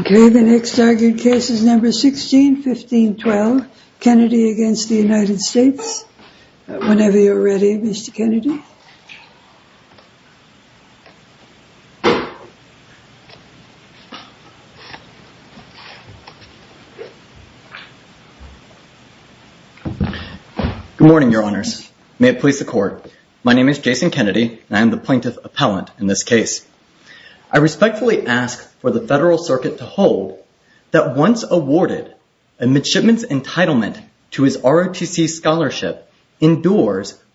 Okay, the next argued case is number 16, 15, 12, Kennedy against the United States, whenever you're ready, Mr. Kennedy. Good morning, your honors. May it please the court. My name is Jason Kennedy and I'm the plaintiff appellant in this case. I respectfully ask for the federal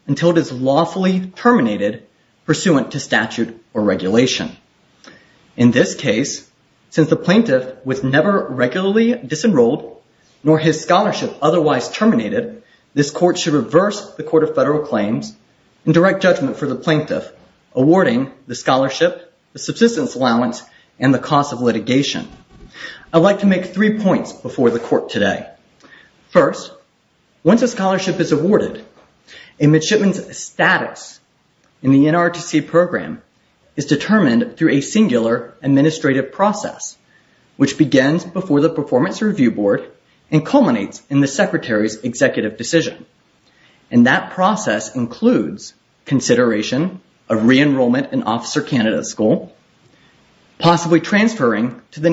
until it is lawfully terminated pursuant to statute or regulation. In this case, since the plaintiff was never regularly disenrolled nor his scholarship otherwise terminated, this court should reverse the court of federal claims and direct judgment for the plaintiff awarding the scholarship, the subsistence allowance, and the cost of litigation. I'd like to make three points before the court today. First, once a scholarship is awarded, a midshipman's status in the NRTC program is determined through a singular administrative process, which begins before the performance review board and culminates in the secretary's executive decision. That process includes consideration of re-enrollment in officer candidate school, possibly transferring to the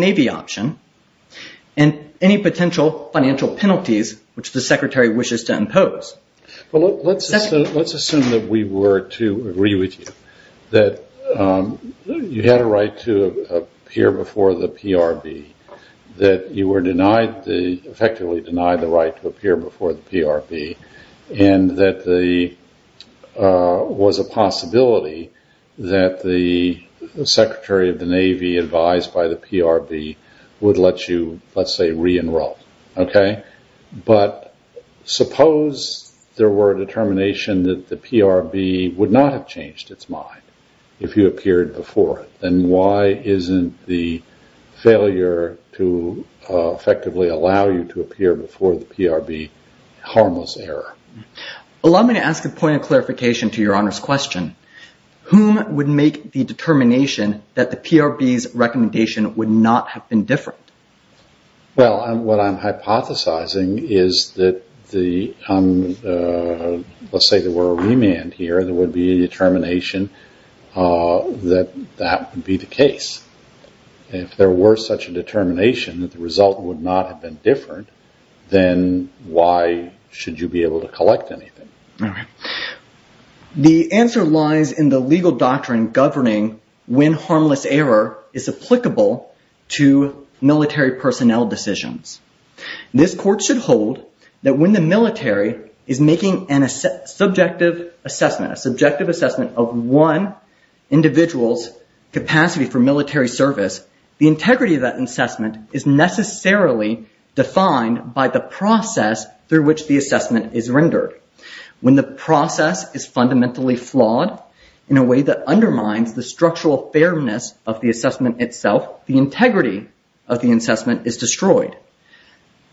potential financial penalties which the secretary wishes to impose. Let's assume that we were to agree with you that you had a right to appear before the PRB, that you were effectively denied the right to appear before the PRB, and that there was a possibility that the secretary of the Navy advised by the PRB would let you, let's say, re-enroll. But suppose there were a determination that the PRB would not have changed its mind if you appeared before it. Then why isn't the failure to effectively allow you to appear before the PRB harmless error? Allow me to ask a point of clarification to Your Honor's question. Whom would make the determination that the PRB's recommendation would not have been different? Well, what I'm hypothesizing is that, let's say there were a remand here, there would be a determination that that would be the case. If there were such a determination that the result would not have been different, then why should you be able to collect anything? All right. The answer lies in the legal doctrine governing when harmless error is applicable to military personnel decisions. This court should hold that when the military is making a subjective assessment, a subjective assessment of one individual's capacity for military service, the integrity of that assessment is necessarily defined by the process through which the assessment is made. When the process is fundamentally flawed in a way that undermines the structural fairness of the assessment itself, the integrity of the assessment is destroyed.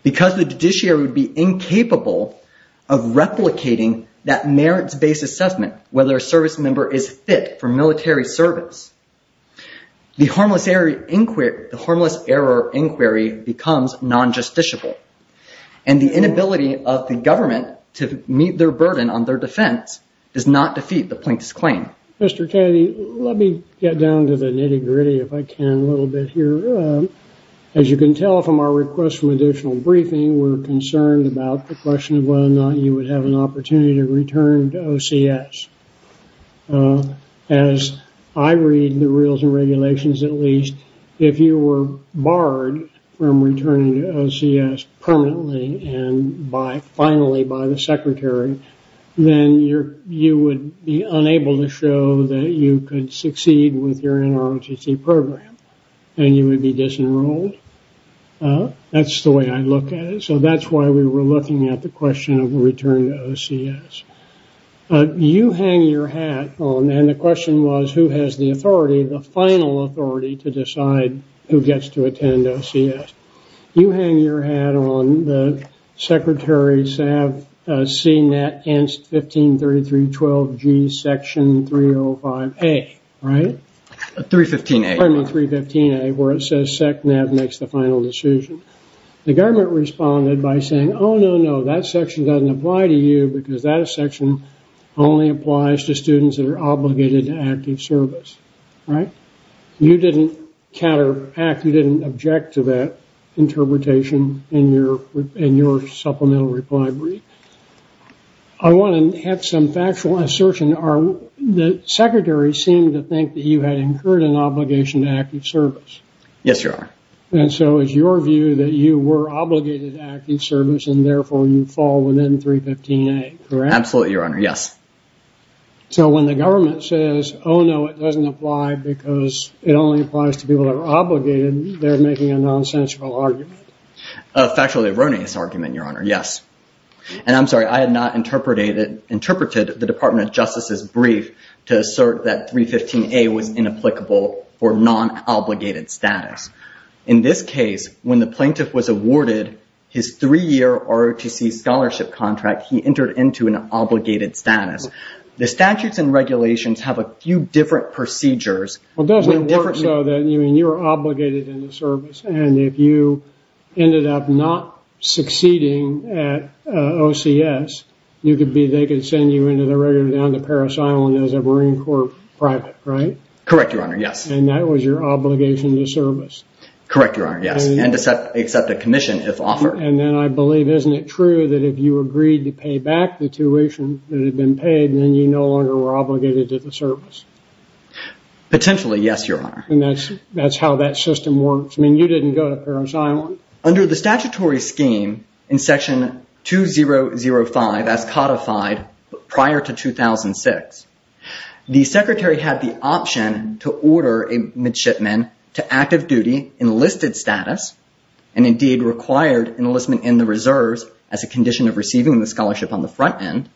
Because the judiciary would be incapable of replicating that merits-based assessment, whether a service member is fit for military service, the harmless error inquiry becomes non-justiciable, and the inability of the government to meet their burden on their defense does not defeat the plaintiff's claim. Mr. Kennedy, let me get down to the nitty-gritty if I can a little bit here. As you can tell from our request for additional briefing, we're concerned about the question of whether or not you would have an opportunity to return to OCS. As I read the rules and regulations, at least, if you were barred from returning to OCS permanently and by finally by the secretary, then you would be unable to show that you could succeed with your NROTC program, and you would be disenrolled. That's the way I look at it. So that's why we were looking at the question of the return to OCS. You hang your hat on, and the question was, who has the authority, the final authority, to decide who gets to attend OCS? You hang your hat on the Secretary SAVCNET ENST 153312G Section 305A, right? 315A. Pardon me, 315A, where it says SECNAV makes the final decision. The government responded by saying, oh, no, no, that section doesn't apply to you because that section only applies to students that are obligated to active service, right? You didn't counteract, you didn't object to that interpretation in your supplemental reply brief. I want to have some factual assertion. The Secretary seemed to think you had incurred an obligation to active service. Yes, Your Honor. And so it's your view that you were obligated to active service, and therefore, you fall within 315A, correct? Absolutely, Your Honor. Yes. So when the government says, oh, no, it doesn't apply because it only applies to people that are obligated, they're making a nonsensical argument. A factually erroneous argument, Your Honor. Yes. And I'm sorry, I had not interpreted the Department of Justice's brief to assert that 315A was inapplicable for non-obligated status. In this case, when the plaintiff was awarded his three-year ROTC scholarship contract, he entered into an obligated status. The statutes and regulations have a few different procedures. Well, it doesn't work so that you're obligated in the service, and if you ended up not succeeding at OCS, you could be, they could send you into the regular down to Parris Island as a Marine Corps private, right? Correct, Your Honor. Yes. And that was your obligation to service. Correct, Your Honor. Yes. And to accept a commission if offered. And then I believe, isn't it true that if you agreed to pay back the tuition that had been paid, then you no longer were obligated to the service? Potentially, yes, Your Honor. And that's how that system works. I the statutory scheme in section 2005 as codified prior to 2006, the secretary had the option to order a midshipman to active duty enlisted status, and indeed required enlistment in the reserves as a condition of receiving the scholarship on the front end,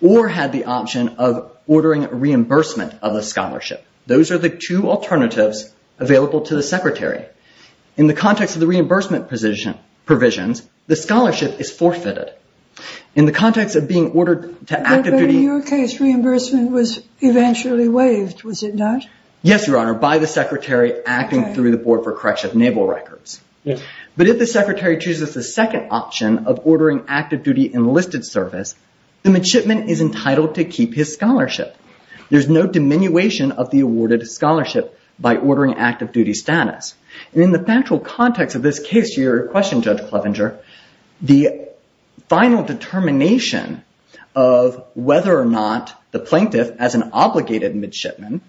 or had the option of ordering reimbursement of the scholarship. Those are the two alternatives available to the secretary. In the context of the reimbursement provisions, the scholarship is forfeited. In the context of being ordered to active duty- But in your case, reimbursement was eventually waived, was it not? Yes, Your Honor, by the secretary acting through the board for correction of naval records. But if the secretary chooses the second option of ordering active duty enlisted service, the midshipman is entitled to keep his scholarship. There's no diminution of the In the factual context of this case, to your question, Judge Clevenger, the final determination of whether or not the plaintiff, as an obligated midshipman,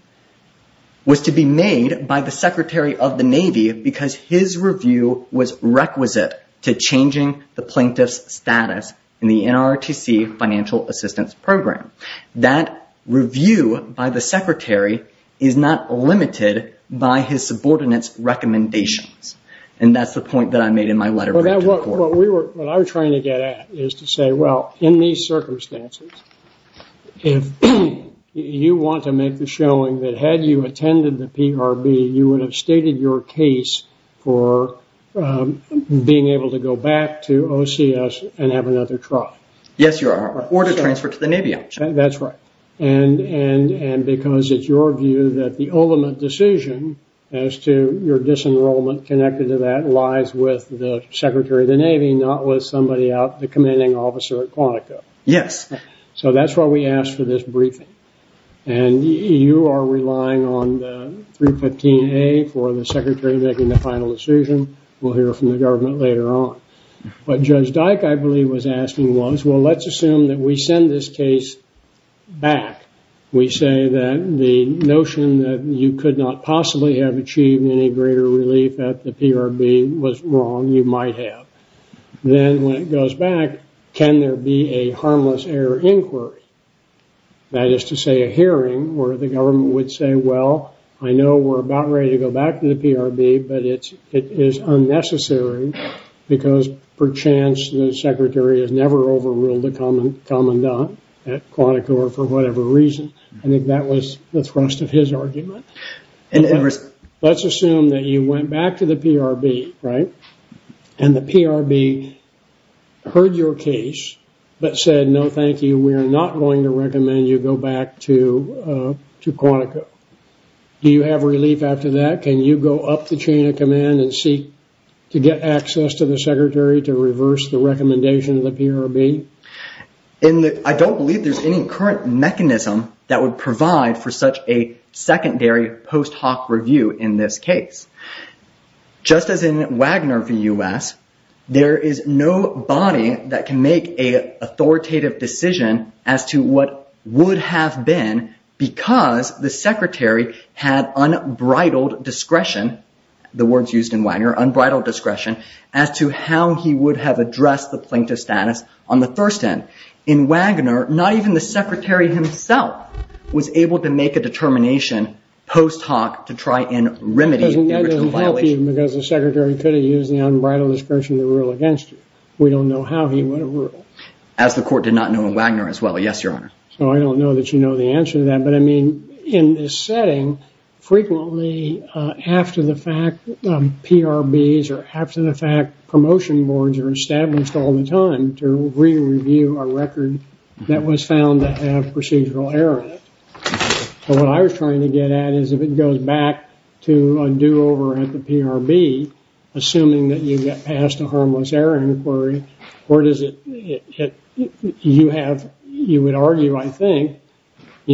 was to be made by the secretary of the Navy because his review was requisite to changing the plaintiff's status in the NRTC financial assistance program. That review by the secretary is not limited by his subordinates' recommendations. That's the point that I made in my letter- What I was trying to get at is to say, well, in these circumstances, if you want to make the showing that had you attended the PRB, you would have stated your case for being able to go back to OCS and have another trial. Yes, Your Honor, or to transfer to the Navy option. That's right. And because it's your view that the ultimate decision as to your disenrollment connected to that lies with the secretary of the Navy, not with somebody out, the commanding officer at Quantico. Yes. So that's why we asked for this briefing. And you are relying on the 315A for the secretary making the final decision. We'll hear from the government later on. But Judge Dyke, I believe, was asking was, well, let's assume that we send this case back. We say that the notion that you could not possibly have achieved any greater relief at the PRB was wrong. You might have. Then when it goes back, can there be a harmless error inquiry? That is to say, a hearing where the government would say, well, I know we're about ready to go back to the PRB, but it is unnecessary because, perchance, the secretary has never overruled the commandant at Quantico or for whatever reason. I think that was the thrust of his argument. Let's assume that you went back to the PRB, right, and the PRB heard your case but said, no, thank you, we are not going to recommend you go back to Quantico. Do you have relief after that? Can you go up the chain of command and seek to get access to the secretary to reverse the recommendation of the PRB? I don't believe there's any current mechanism that would provide for such a secondary post hoc review in this case. Just as in Wagner v. US, there is no body that can authoritative decision as to what would have been because the secretary had unbridled discretion, the words used in Wagner, unbridled discretion, as to how he would have addressed the plaintiff's status on the first end. In Wagner, not even the secretary himself was able to make a determination post hoc to try and remedy the violation. That doesn't help you because the secretary could have used the unbridled discretion to rule against you. We don't know how he would have ruled. As the court did not know in Wagner as well, yes, your honor. So I don't know that you know the answer to that, but I mean, in this setting, frequently after the fact PRBs or after the fact promotion boards are established all the time to re-review a record that was found to have procedural error. What I was trying to get at is if it goes back to a do-over at the PRB, assuming that you get past a harmless error inquiry, or does it, you have, you would argue, I think,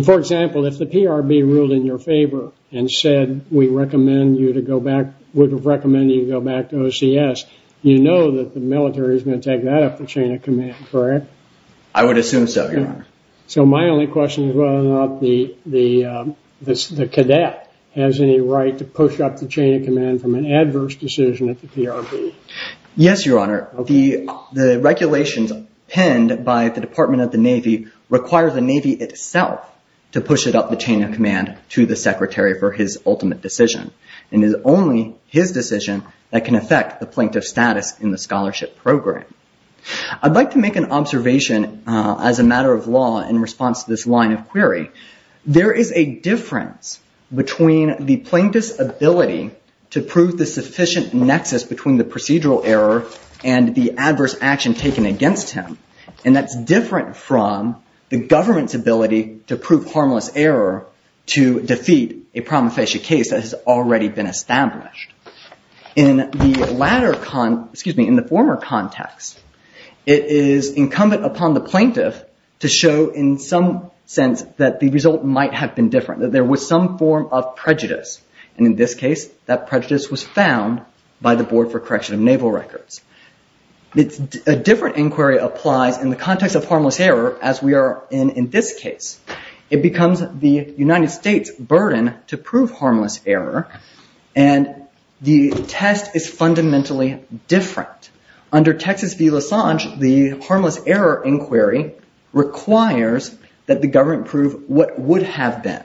for example, if the PRB ruled in your favor and said we recommend you to go back, would recommend you go back to OCS, you know that the military is going to take that up the chain of command, correct? I would assume so, your honor. So my only question is whether or not the cadet has any right to push up the chain of command from an adverse decision at the PRB. Yes, your honor. The regulations penned by the Department of the Navy require the Navy itself to push it up the chain of command to the secretary for his ultimate decision. It is only his decision that can affect the plaintiff status in the scholarship program. I'd like to make an observation as a matter of law in response to this line of query. There is a difference between the plaintiff's ability to prove the sufficient nexus between the procedural error and the adverse action taken against him. And that's different from the government's ability to prove harmless error to defeat a promulgation case that has already been established. In the former context, it is incumbent upon the plaintiff to show in some sense that the result might have been different, that there was some form of prejudice. And in this case, that prejudice was found by the board for correction of naval records. A different inquiry applies in the context of harmless error as we are in in this case. It and the test is fundamentally different. Under Texas v. LaSange, the harmless error inquiry requires that the government prove what would have been.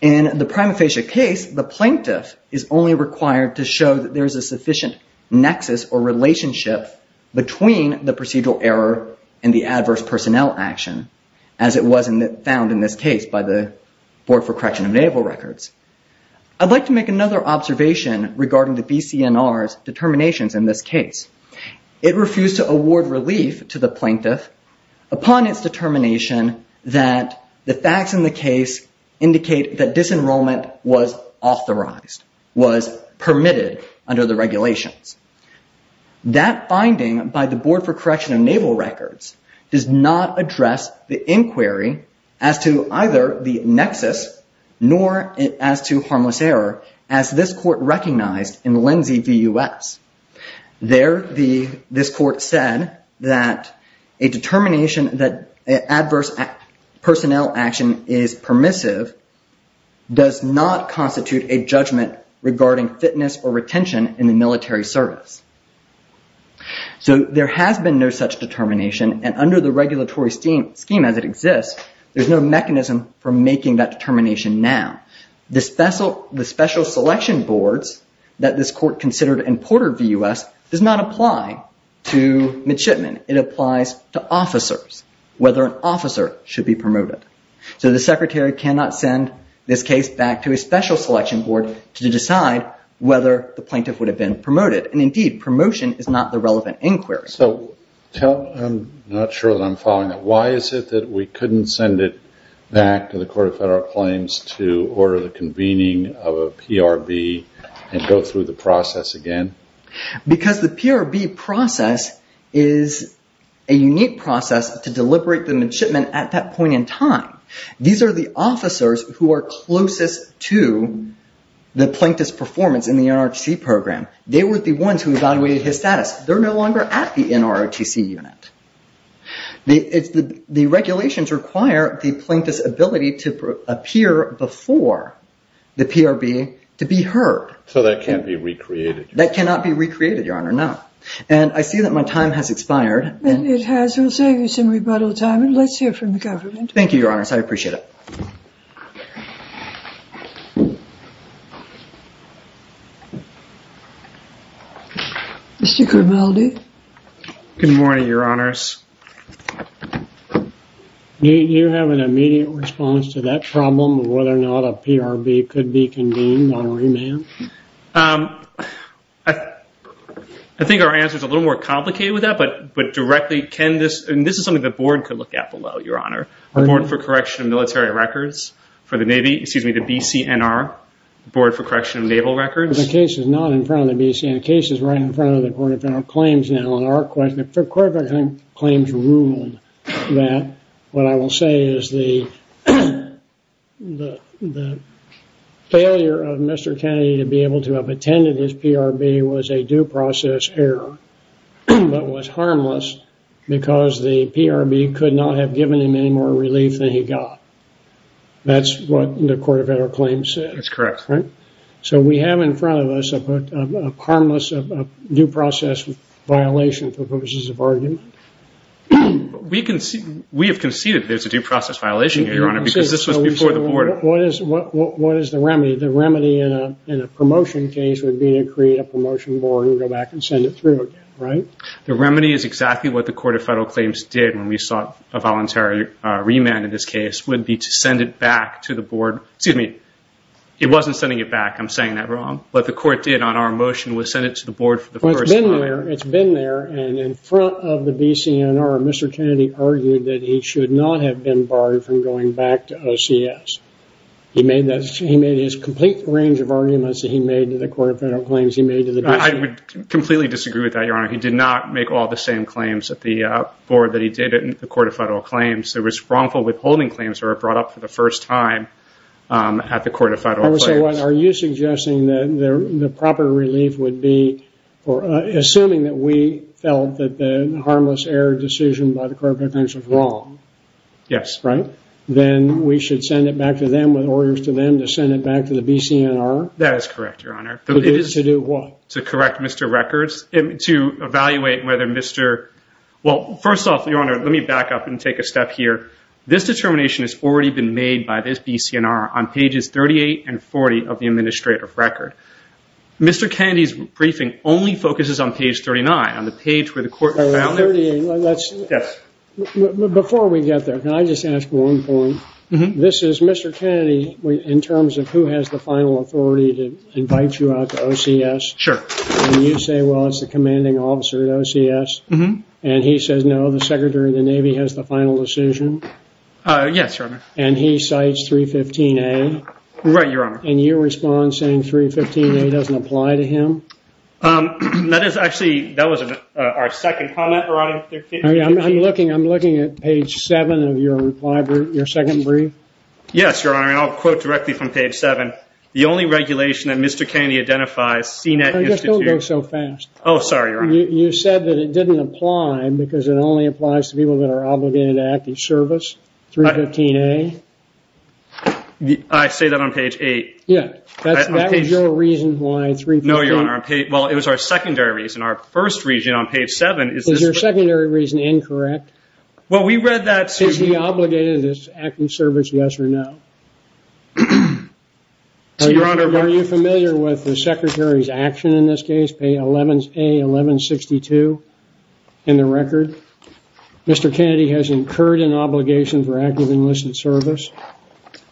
In the prima facie case, the plaintiff is only required to show that there is a sufficient nexus or relationship between the procedural error and the adverse personnel action as it was found in this case by the board for correction of naval records. I'd like to make another observation regarding the BCNR's determinations in this case. It refused to award relief to the plaintiff upon its determination that the facts in the case indicate that disenrollment was authorized, was permitted under the regulations. That finding by the board for correction of naval records does not address the inquiry as to either the nexus nor as to harmless error as this court recognized in Lindsay v. US. There, this court said that a determination that adverse personnel action is permissive does not constitute a judgment regarding fitness or retention in the military service. So there has been no such determination and under the regulatory scheme as it exists, there's no mechanism for making that determination now. The special selection boards that this court considered in Porter v. US does not apply to midshipmen. It applies to officers, whether an officer should be promoted. So the secretary cannot send this case back to a special selection board to decide whether the plaintiff would have been promoted. Indeed, promotion is not the relevant inquiry. So I'm not sure that I'm following that. Why is it that we couldn't send it back to the Court of Federal Claims to order the convening of a PRB and go through the process again? Because the PRB process is a unique process to deliberate the midshipmen at that point in time. These are the officers who are closest to the plaintiff's performance in the NRGC program. They were the ones who evaluated his status. They're no longer at the NRGC unit. The regulations require the plaintiff's ability to appear before the PRB to be heard. So that can't be recreated? That cannot be recreated, Your Honor, no. And I see that my time has expired. Then it has. We'll save you some rebuttal time and let's hear from the government. Thank you, Your Honor. I appreciate it. Mr. Grimaldi? Good morning, Your Honors. You have an immediate response to that problem of whether or not a PRB could be convened on remand? I think our answer is a little more complicated with that, but directly, can this, and this is something the board could look at below, Your Honor, the Board for Correction of Military Records for the Navy, excuse me, the BCNR, Board for Correction of Naval Records. The case is not in front of the BCNR. The case is right in front of the Court of Federal Claims now, and the Court of Federal Claims ruled that what I will say is the failure of Mr. Kennedy to be able to have attended his PRB was a due process error, but was harmless because the PRB could not have given him any more relief than he got. That's what the Court of Federal Claims said. That's correct. So we have in front of us a harmless due process violation for purposes of argument. We have conceded that there's a due process violation here, Your Honor, because this was before the board. What is the remedy? The remedy in a promotion case would be to create a promotion board and go back and send it through again, right? The remedy is exactly what the Court of Federal Claims did when we sought a voluntary remand in this case would be to send it back to the board. Excuse me. It wasn't sending it back. I'm saying that wrong. What the court did on our motion was send it to the board for the first time. It's been there, and in front of the BCNR, Mr. Kennedy argued that he should not have been barred from going back to OCS. He made his complete range of arguments that he made to the Court of Federal Claims. He made to the BCNR. I would completely disagree with that, Your Honor. He did not make all the same claims at the board that he did at the Court of Federal Claims. There was wrongful withholding claims that were brought up for the first time at the Court of Federal Claims. Are you suggesting that the proper relief would be assuming that we felt that the harmless error decision by the Court of Federal Claims was wrong? Yes. Right? Then we should send it back to them with orders to them to send it back to the BCNR? That is correct, Your Honor. To do what? To correct Mr. Rekers, to evaluate whether Mr. Well, first off, Your Honor, let me back up and step here. This determination has already been made by this BCNR on pages 38 and 40 of the Administrative Record. Mr. Kennedy's briefing only focuses on page 39, on the page where the Court of Federal Claims... 38, that's... Yes. Before we get there, can I just ask one point? This is Mr. Kennedy in terms of who has the final authority to invite you out to OCS. Sure. And you say, well, it's the commanding officer at OCS. And he says, no, the Secretary of the Navy has the final decision. Yes, Your Honor. And he cites 315A. Right, Your Honor. And your response saying 315A doesn't apply to him? That is actually, that was our second comment, Your Honor. I'm looking at page seven of your reply brief, your second brief. Yes, Your Honor, and I'll quote directly from page seven. The only regulation that Mr. Kennedy identifies, CNET Institute... Just don't go so fast. Oh, sorry, Your Honor. You said that it didn't apply because it only applies to people that are obligated to active service, 315A. I say that on page eight. Yeah, that was your reason why 315... No, Your Honor. Well, it was our secondary reason. Our first reason on page seven is... Is your secondary reason incorrect? Well, we read that... Is he obligated to active service, yes or no? Your Honor... Are you familiar with the Secretary's action in this case? A1162 in the record. Mr. Kennedy has incurred an obligation for active enlisted service.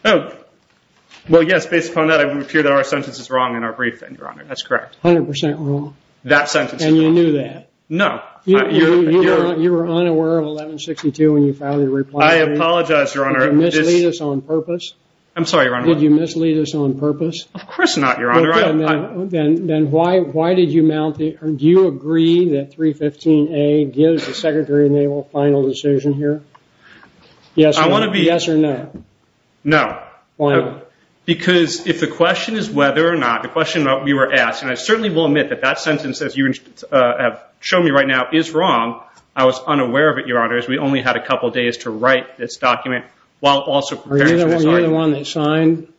Oh, well, yes. Based upon that, it would appear that our sentence is wrong in our briefing, Your Honor. That's correct. 100% wrong. That sentence is wrong. And you knew that? No. You were unaware of 1162 when you filed your reply brief. I apologize, Your Honor. Did you mislead us on purpose? I'm sorry, Your Honor. Did you mislead us on purpose? Of course not, Your Honor. Then why did you mount the... Do you agree that 315A gives the Secretary an able final decision here? Yes or no? Yes or no? No. Why? Because if the question is whether or not... The question that we were asked... And I certainly will admit that that sentence, as you have shown me right now, is wrong. I was unaware of it, Your Honor, as we only had a couple days to write this document while also... Are you the one that signed?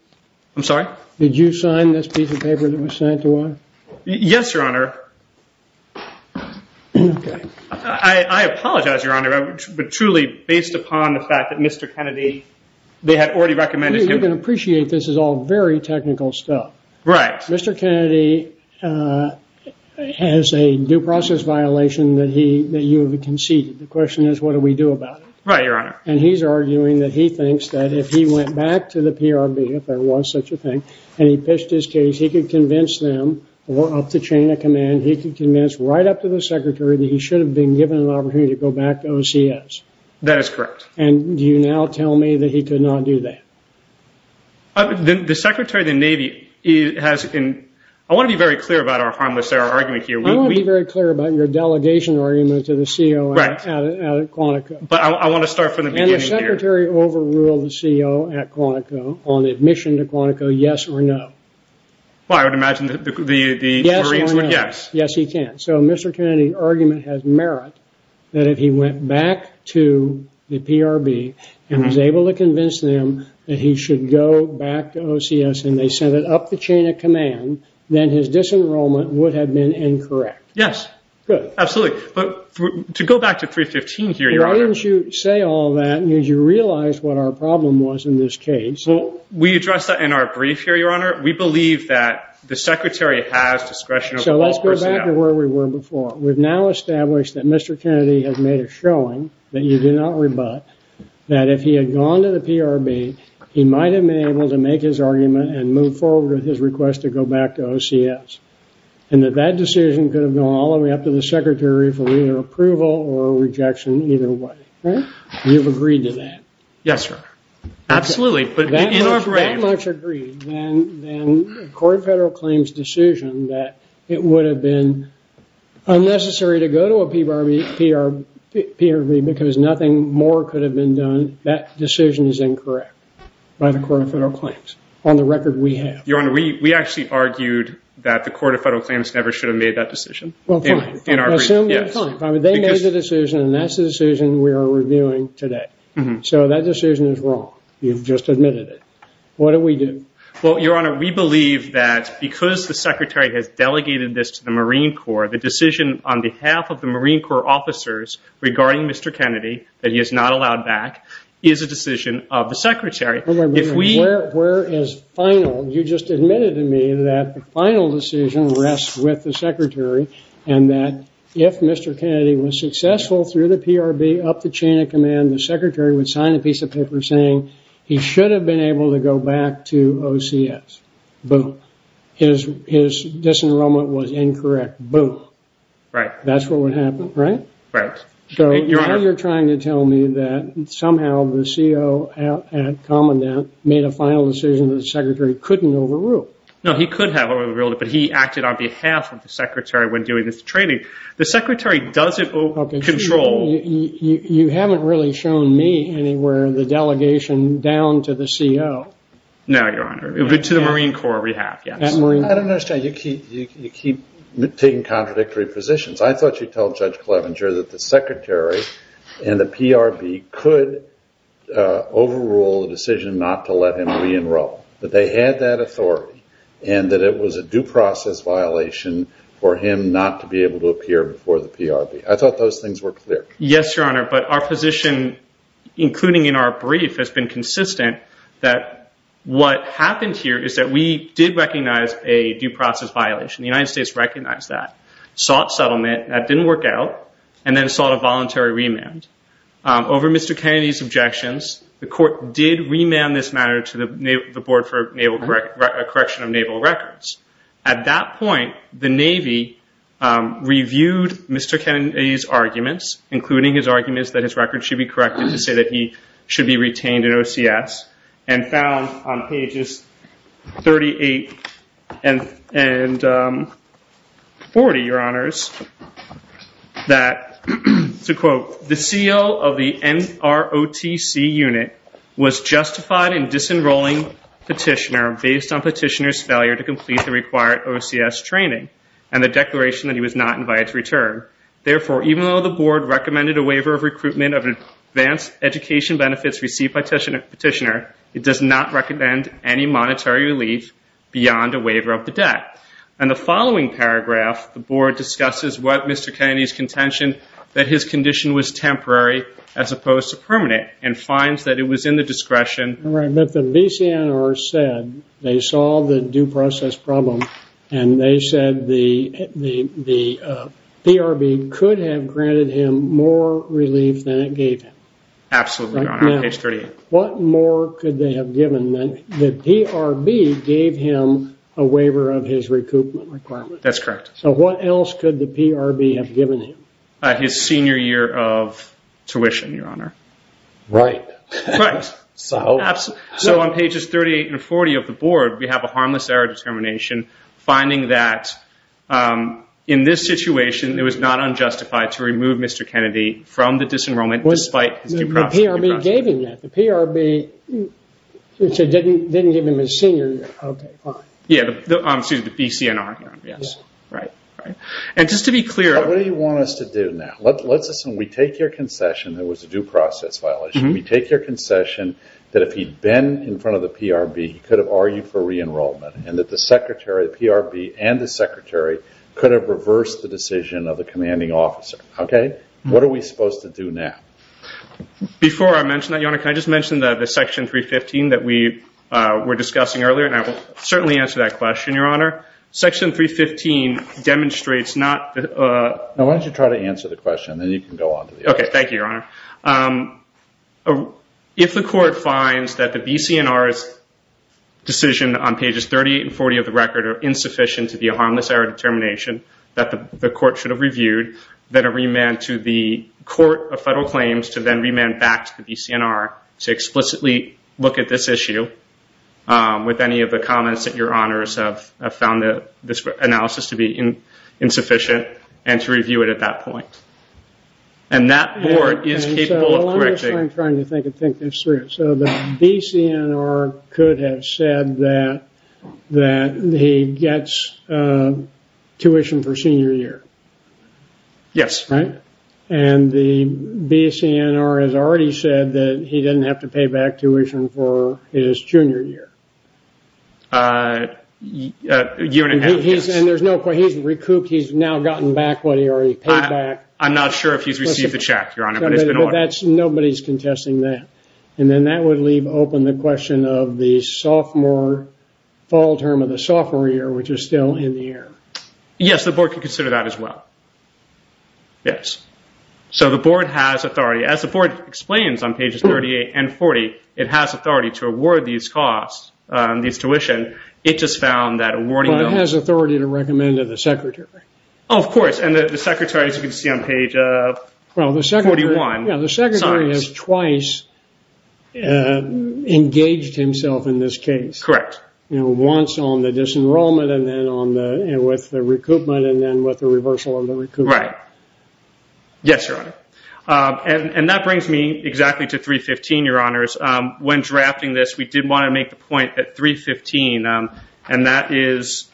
I'm sorry? Did you sign this piece of paper that was sent to us? Yes, Your Honor. I apologize, Your Honor, but truly based upon the fact that Mr. Kennedy... They had already recommended him... You can appreciate this is all very technical stuff. Right. Mr. Kennedy has a due process violation that you have conceded. The question is, what do we do about it? Right, Your Honor. And he's arguing that he thinks that if he went back to the PRB, if there was such a thing, and he pitched his case, he could convince them, or up the chain of command, he could convince right up to the Secretary that he should have been given an opportunity to go back to OCS. That is correct. And do you now tell me that he could not do that? The Secretary of the Navy has... I want to be very clear about our harmless error argument here. I want to be very clear about your delegation argument to the COO at Quantico. But I want to start from the beginning here. The Secretary overruled the COO at Quantico on admission to Quantico, yes or no? Well, I would imagine that the Marines would... Yes or no? Yes. Yes, he can. So Mr. Kennedy's argument has merit that if he went back to the PRB and was able to convince them that he should go back to OCS and they sent it up the chain of command, then his disenrollment would have been incorrect. Yes. Good. Absolutely. But to go back to 315 here, Your Honor... Did you realize what our problem was in this case? Well, we addressed that in our brief here, Your Honor. We believe that the Secretary has discretion... So let's go back to where we were before. We've now established that Mr. Kennedy has made a showing that you do not rebut that if he had gone to the PRB, he might have been able to make his argument and move forward with his request to go back to OCS. And that that decision could have gone all the way up to the Secretary for either approval or rejection either way. You've agreed to that? Yes, Your Honor. Absolutely. But in our brief... That much agreed, then the Court of Federal Claims' decision that it would have been unnecessary to go to a PRB because nothing more could have been done, that decision is incorrect by the Court of Federal Claims. On the record, we have. Your Honor, we actually argued that the Court of Federal Claims never should have made that decision. Well, fine. In our brief, yes. Assume that, fine. They made the decision and that's the decision we are reviewing today. So that decision is wrong. You've just admitted it. What do we do? Well, Your Honor, we believe that because the Secretary has delegated this to the Marine Corps, the decision on behalf of the Marine Corps officers regarding Mr. Kennedy that he is not allowed back is a decision of the Secretary. If we... Where is final? You just admitted to me that the final decision rests with the Secretary and that if Mr. Kennedy was successful through the PRB, up the chain of command, the Secretary would sign a piece of paper saying he should have been able to go back to OCS. Boom. His disenrollment was incorrect. Boom. Right. That's what would happen, right? Right. So, Your Honor, you're trying to tell me that somehow the CO at Commandant made a final decision that the Secretary couldn't overrule. No, he could have overruled it, but he acted on behalf of the Secretary when doing this training. The Secretary doesn't control... You haven't really shown me anywhere the delegation down to the CO. No, Your Honor. To the Marine Corps we have, yes. I don't understand. You keep taking contradictory positions. I thought you told Judge Clevenger that the Secretary and the PRB could overrule the decision not to let him re-enroll, that they had that authority and that it was a due process violation for him not to be able to appear before the PRB. I thought those things were clear. Yes, Your Honor. But our position, including in our brief, has been consistent that what happened here is that we did recognize a due process violation. The United States recognized that, sought settlement, that didn't work out, and then sought a voluntary remand. Over Mr. Kennedy's objections, the court did remand this matter to the Board for Correction of Naval Records. At that point, the Navy reviewed Mr. Kennedy's arguments, including his arguments that his record should be corrected to say that he should be retained in OCS, and found on pages 38 and 40, Your Honors, that, to quote, the CO of the NROTC unit was justified in disenrolling Petitioner based on Petitioner's failure to complete the required OCS training and the declaration that he was not invited to return. Therefore, even though the Board recommended a waiver of recruitment of advanced education benefits received by Petitioner, it does not recommend any monetary relief beyond a waiver of the debt. In the following paragraph, the Board discusses what Mr. Kennedy's contention that his condition was temporary as opposed to permanent, and finds that it was in the discretion. All right, but the BCNR said they saw the due process problem, and they said the PRB could have granted him more relief than it gave him. Absolutely, Your Honor, page 38. What more could they have given him? The PRB gave him a waiver of his recoupment requirement. That's correct. So what else could the PRB have given him? His senior year of tuition, Your Honor. Right. So on pages 38 and 40 of the Board, we have a harmless error determination finding that in this situation, it was not unjustified to remove Mr. Kennedy from the disenrollment despite his due process. The PRB gave him that. The PRB didn't give him his senior year. Okay, fine. Yeah, excuse me, the BCNR, Your Honor. Yes, right, right. And just to be clear- What do you want us to do now? Let's assume we take your concession there was a due process violation. We take your concession that if he'd been in front of the PRB, he could have argued for re-enrollment, and that the PRB and the secretary could have reversed the decision of the commanding officer. Okay, what are we supposed to do now? Before I mention that, Your Honor, can I just mention the section 315 that we were discussing earlier? And I will certainly answer that question, Your Honor. Section 315 demonstrates not- Now, why don't you try to answer the question, and then you can go on to the- Okay, thank you, Your Honor. If the court finds that the BCNR's decision on pages 38 and 40 of the record are insufficient to be a harmless error determination that the court should have reviewed, that a remand to the court of federal claims to then remand back to the BCNR to explicitly look at this issue with any of the comments that Your Honors have found this analysis to be insufficient and to review it at that point. And that board is capable of correcting- I'm trying to think this through. So the BCNR could have said that he gets tuition for senior year. Yes. Right? And the BCNR has already said that he didn't have to pay back tuition for his junior year. And he's recouped. He's now gotten back what he already paid back. I'm not sure if he's received the check, Your Honor, but it's been ordered. Nobody's contesting that. And then that would leave open the question of the sophomore fall term of the sophomore year, which is still in the air. Yes, the board could consider that as well. Yes. So the board has authority. As the board explains on pages 38 and 40, it has authority to award these costs, these tuition. It just found that awarding- But it has authority to recommend to the secretary. Oh, of course. And the secretary, as you can see on page 41. Yeah, the secretary has twice engaged himself in this case. Correct. You know, once on the disenrollment and then with the recoupment and then with the reversal of the recoupment. Right. Yes, Your Honor. And that brings me exactly to 315, Your Honors. When drafting this, we did want to make the point that 315, and that is-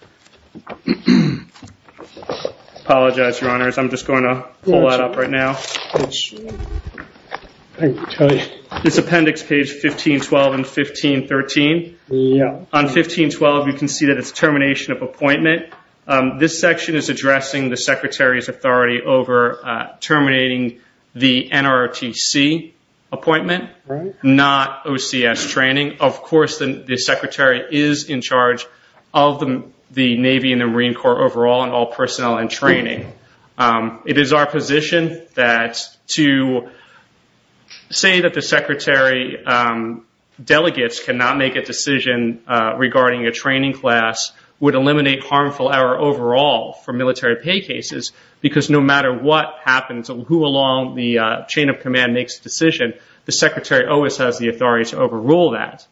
Apologize, Your Honors. I'm just going to pull that up right now. It's appendix page 1512 and 1513. On 1512, you can see that it's termination of appointment. This section is addressing the secretary's authority over terminating the NRTC appointment, not OCS training. Of course, the secretary is in charge of the Navy and the Marine Corps overall and all personnel and training. It is our position that to say that the secretary delegates cannot make a decision regarding a training class would eliminate harmful error overall for military pay cases because no matter what happens, who along the chain of command makes the decision, the secretary always has the authority to overrule that.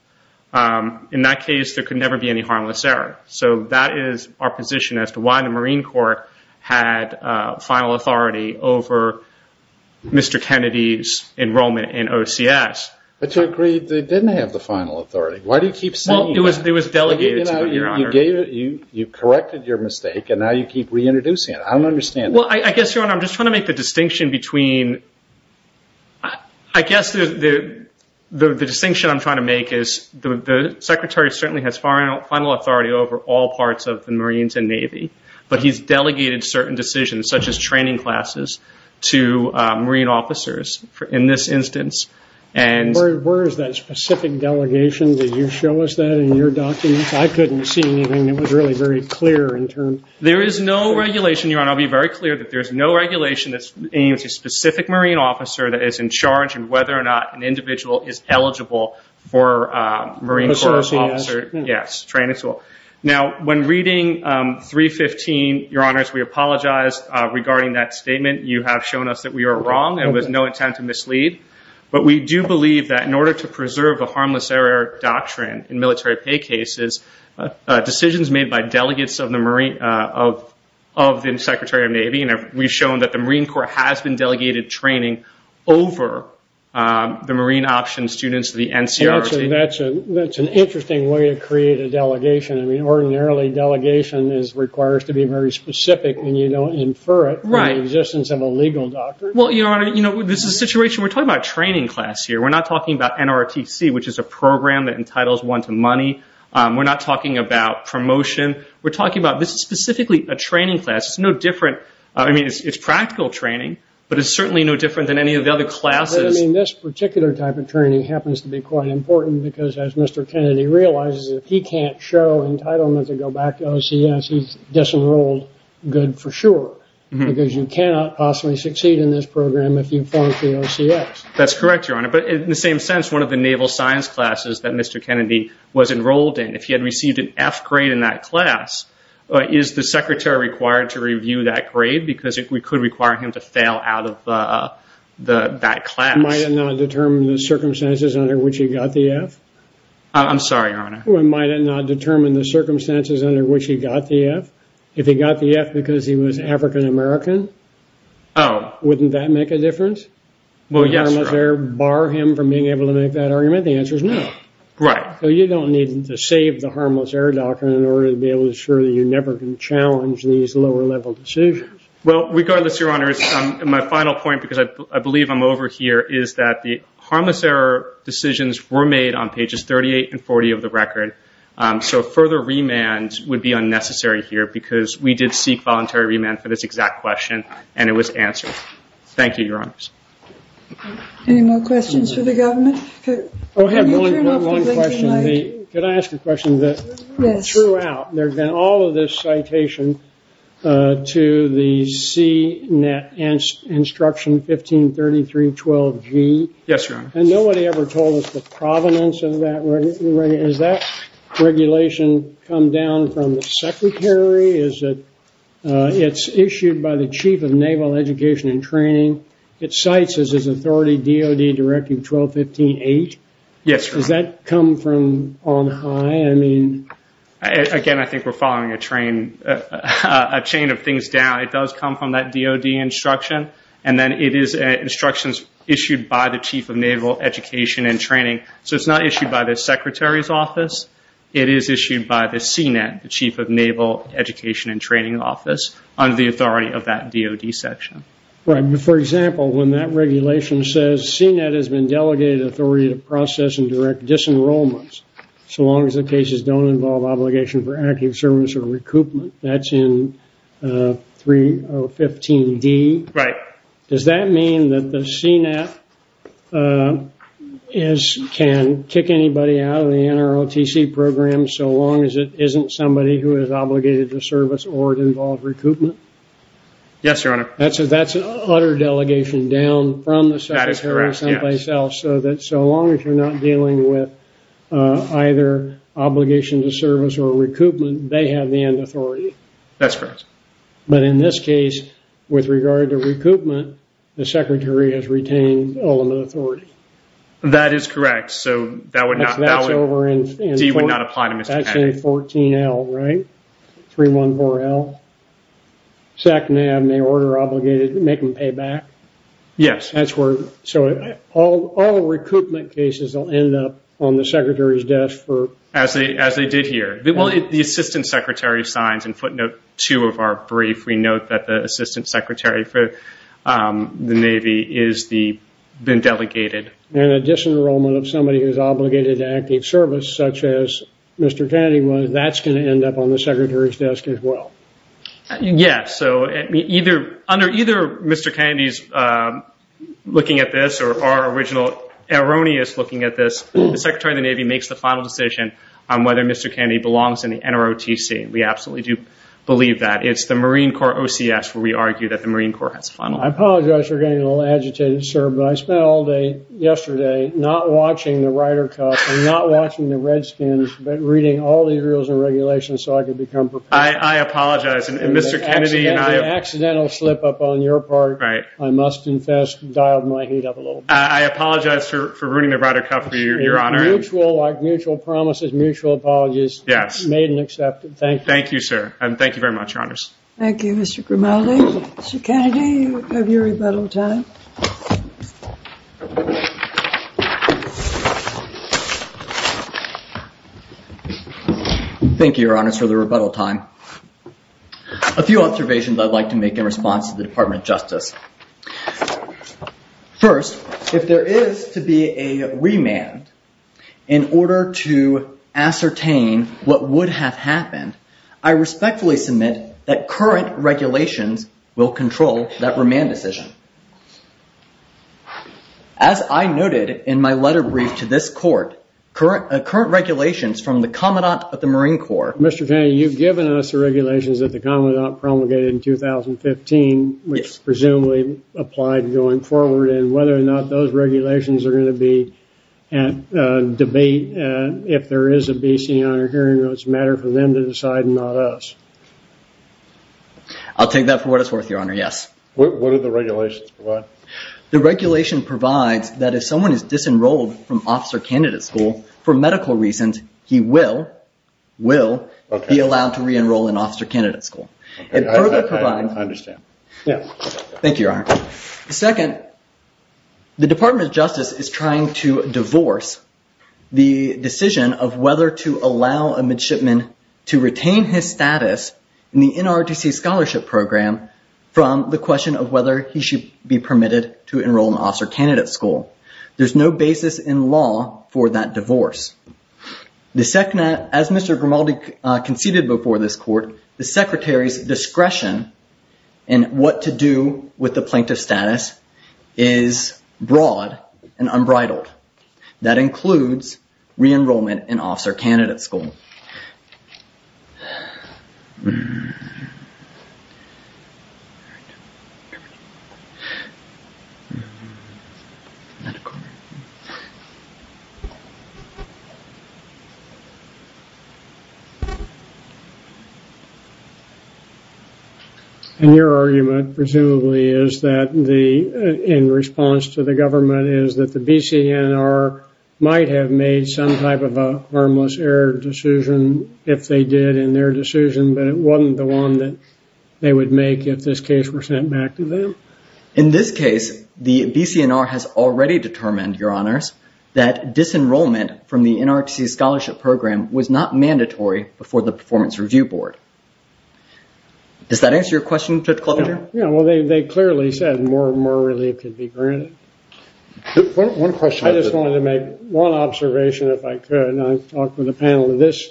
In that case, there could never be any harmless error. So that is our position as to why the Marine Corps had final authority over Mr. Kennedy's enrollment in OCS. But you agreed they didn't have the final authority. Why do you keep saying that? Well, it was delegated to them, Your Honor. You corrected your mistake, and now you keep reintroducing it. I don't understand that. Well, I guess, Your Honor, I'm just trying to make the distinction between- I guess the distinction I'm trying to make is the secretary certainly has final authority over all parts of the Marines and Navy, but he's delegated certain decisions such as training classes to Marine officers in this instance and- Where is that specific delegation? Did you show us that in your documents? I couldn't see anything. It was really very clear in terms- There is no regulation, Your Honor. I'll be very clear that there's no regulation aimed at a specific Marine officer that is in charge and whether or not an individual is eligible for a Marine Corps officer- Yes, training school. Now, when reading 315, Your Honors, we apologize regarding that statement. You have shown us that we are wrong and with no intent to mislead, but we do believe that in order to preserve a harmless error doctrine in military pay cases, decisions made by delegates of the Secretary of Navy, we've shown that the Marine Corps has been delegated training over the Marine option students, the NCRT. That's an interesting way to create a delegation. Ordinarily, delegation requires to be very specific and you don't infer it in the existence of a legal doctrine. Well, Your Honor, this is a situation we're talking about a training class here. We're not talking about NRTC, which is a program that entitles one to money. We're not talking about promotion. We're talking about this is specifically a training class. I mean, it's practical training, but it's certainly no different than any of the other classes. I mean, this particular type of training happens to be quite important because as Mr. Kennedy realizes, if he can't show entitlement to go back to OCS, he's disenrolled good for sure because you cannot possibly succeed in this program if you fall into the OCS. That's correct, Your Honor. But in the same sense, one of the naval science classes that Mr. Kennedy was enrolled in, if he had received an F grade in that class, is the secretary required to review that grade because we could require him to fail out of that class? Might it not determine the circumstances under which he got the F? I'm sorry, Your Honor. Might it not determine the circumstances under which he got the F? If he got the F because he was African American, wouldn't that make a difference? Would harmless error bar him from being able to make that argument? The answer is no. Right. So you don't need to save the harmless error doctrine in order to be able to assure that you're never going to challenge these lower-level decisions. Well, regardless, Your Honor, my final point, because I believe I'm over here, is that the harmless error decisions were made on pages 38 and 40 of the record. So further remand would be unnecessary here because we did seek voluntary remand for this exact question, and it was answered. Thank you, Your Honors. Any more questions for the government? Go ahead. Can I ask a question? Yes. There's been all of this citation to the CNET Instruction 1533-12G. Yes, Your Honor. And nobody ever told us the provenance of that. Has that regulation come down from the Secretary? It's issued by the Chief of Naval Education and Training. It cites as his authority DOD Directive 1215-8. Yes, Your Honor. Does that come from on high? Again, I think we're following a chain of things down. It does come from that DOD instruction, and then it is instructions issued by the Chief of Naval Education and Training. So it's not issued by the Secretary's office. It is issued by the CNET, the Chief of Naval Education and Training Office, under the authority of that DOD section. Right. For example, when that regulation says CNET has been delegated authority to process and direct disenrollments, so long as the cases don't involve obligation for active service or recoupment, that's in 3015-D. Right. Does that mean that the CNET can kick anybody out of the NROTC program so long as it isn't somebody who is obligated to service or to involve recoupment? Yes, Your Honor. That's an utter delegation down from the Secretary someplace else, so that so long as you're not dealing with either obligation to service or recoupment, they have the end authority. That's correct. But in this case, with regard to recoupment, the Secretary has retained ultimate authority. That is correct. So that would not... That's over in... D would not apply to Mr. Henry. That's in 14-L, right? 314-L. SACNAB may order obligated, make them pay back. Yes. That's where... So all recoupment cases will end up on the Secretary's desk for... As they did here. Well, the Assistant Secretary signs in footnote two of our brief. We note that the Assistant Secretary for the Navy is the... been delegated. And a disenrollment of somebody who's obligated to active service, such as Mr. Kennedy was, that's going to end up on the Secretary's desk as well. Yes. So either Mr. Kennedy's looking at this or our original erroneous looking at this, the Secretary of the Navy makes the final decision on whether Mr. Kennedy belongs in the NROTC. We absolutely do believe that. It's the Marine Corps OCS where we argue that the Marine Corps has a final... I apologize for getting a little agitated, sir, but I spent all day yesterday not watching the Ryder Cup and not watching the Redskins, but reading all the rules and regulations so I could become prepared. I apologize. And Mr. Kennedy and I... Accidental slip up on your part. Right. I must confess, dialed my heat up a little bit. I apologize for ruining the Ryder Cup for you. Like mutual promises, mutual apologies. Yes. Made and accepted. Thank you. Thank you, sir. And thank you very much, Your Honors. Thank you, Mr. Grimaldi. Mr. Kennedy, you have your rebuttal time. Thank you, Your Honors, for the rebuttal time. A few observations I'd like to make in response to the Department of Justice. First, if there is to be a remand in order to ascertain what would have happened, I respectfully submit that current regulations will control that remand decision. As I noted in my letter brief to this court, current regulations from the Commandant of the Marine Corps... Mr. Kennedy, you've given us the regulations which presumes that the Marine Corps applied going forward, and whether or not those regulations are going to be debate if there is a B.C. Honor hearing. It's a matter for them to decide, not us. I'll take that for what it's worth, Your Honor. Yes. What do the regulations provide? The regulation provides that if someone is disenrolled from Officer Candidate School for medical reasons, he will be allowed to re-enroll in Officer Candidate School. It further provides... I understand. Yes. Thank you, Your Honor. Second, the Department of Justice is trying to divorce the decision of whether to allow a midshipman to retain his status in the NRDC scholarship program from the question of whether he should be permitted to enroll in Officer Candidate School. There's no basis in law for that divorce. As Mr. Grimaldi conceded before this court, the secretary's discretion in what to do with the plaintiff status is broad and unbridled. That includes re-enrollment in Officer Candidate School. And your argument, presumably, is that the... in response to the government is that the BCNR might have made some type of a harmless error decision if they did in their decision, but it wasn't the one that they would make if this case were sent back to them? In this case, the BCNR has already determined, Your Honors, that disenrollment from the NRDC scholarship program was not mandatory before the Performance Review Board. Does that answer your question, Judge Clothier? Yeah, well, they clearly said more relief could be granted. One question. I just wanted to make one observation, if I could, and I've talked with a panel of this,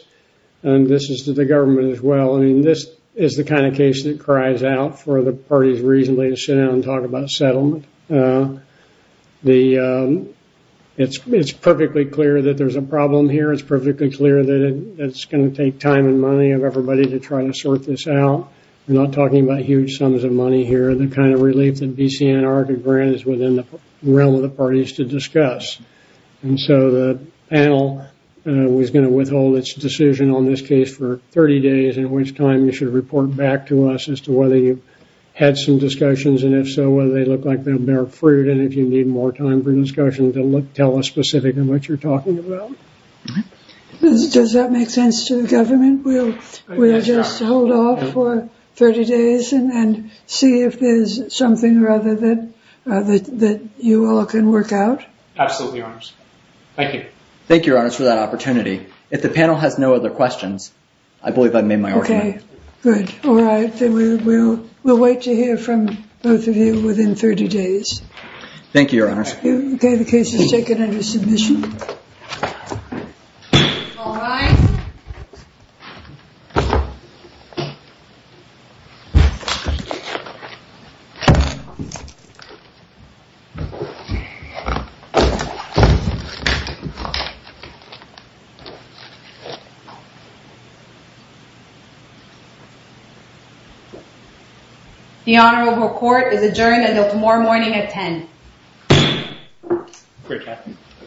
and this is to the government as well. I mean, this is the kind of case that cries out for the parties reasonably to sit down and talk about settlement. The... it's perfectly clear that there's a problem here. It's perfectly clear that it's going to take time and money of everybody to try to sort this out. We're not talking about huge sums of money here. The kind of relief that BCNR could grant is within the realm of the parties to discuss. And so the panel was going to withhold its decision on this case for 30 days, in which time you should report back to us as to whether you had some discussions, and if so, whether they look like they'll bear fruit, and if you need more time for discussion to tell us specifically what you're talking about. Does that make sense to the government? We'll just hold off for 30 days and see if there's something rather than... that you all can work out? Absolutely, Your Honors. Thank you. Thank you, Your Honors, for that opportunity. If the panel has no other questions, I believe I've made my argument. Okay, good. All right, then we'll wait to hear from both of you within 30 days. Thank you, Your Honors. Okay, the case is taken under submission. All rise. Okay. The honorable court is adjourned until tomorrow morning at 10. Great, Captain.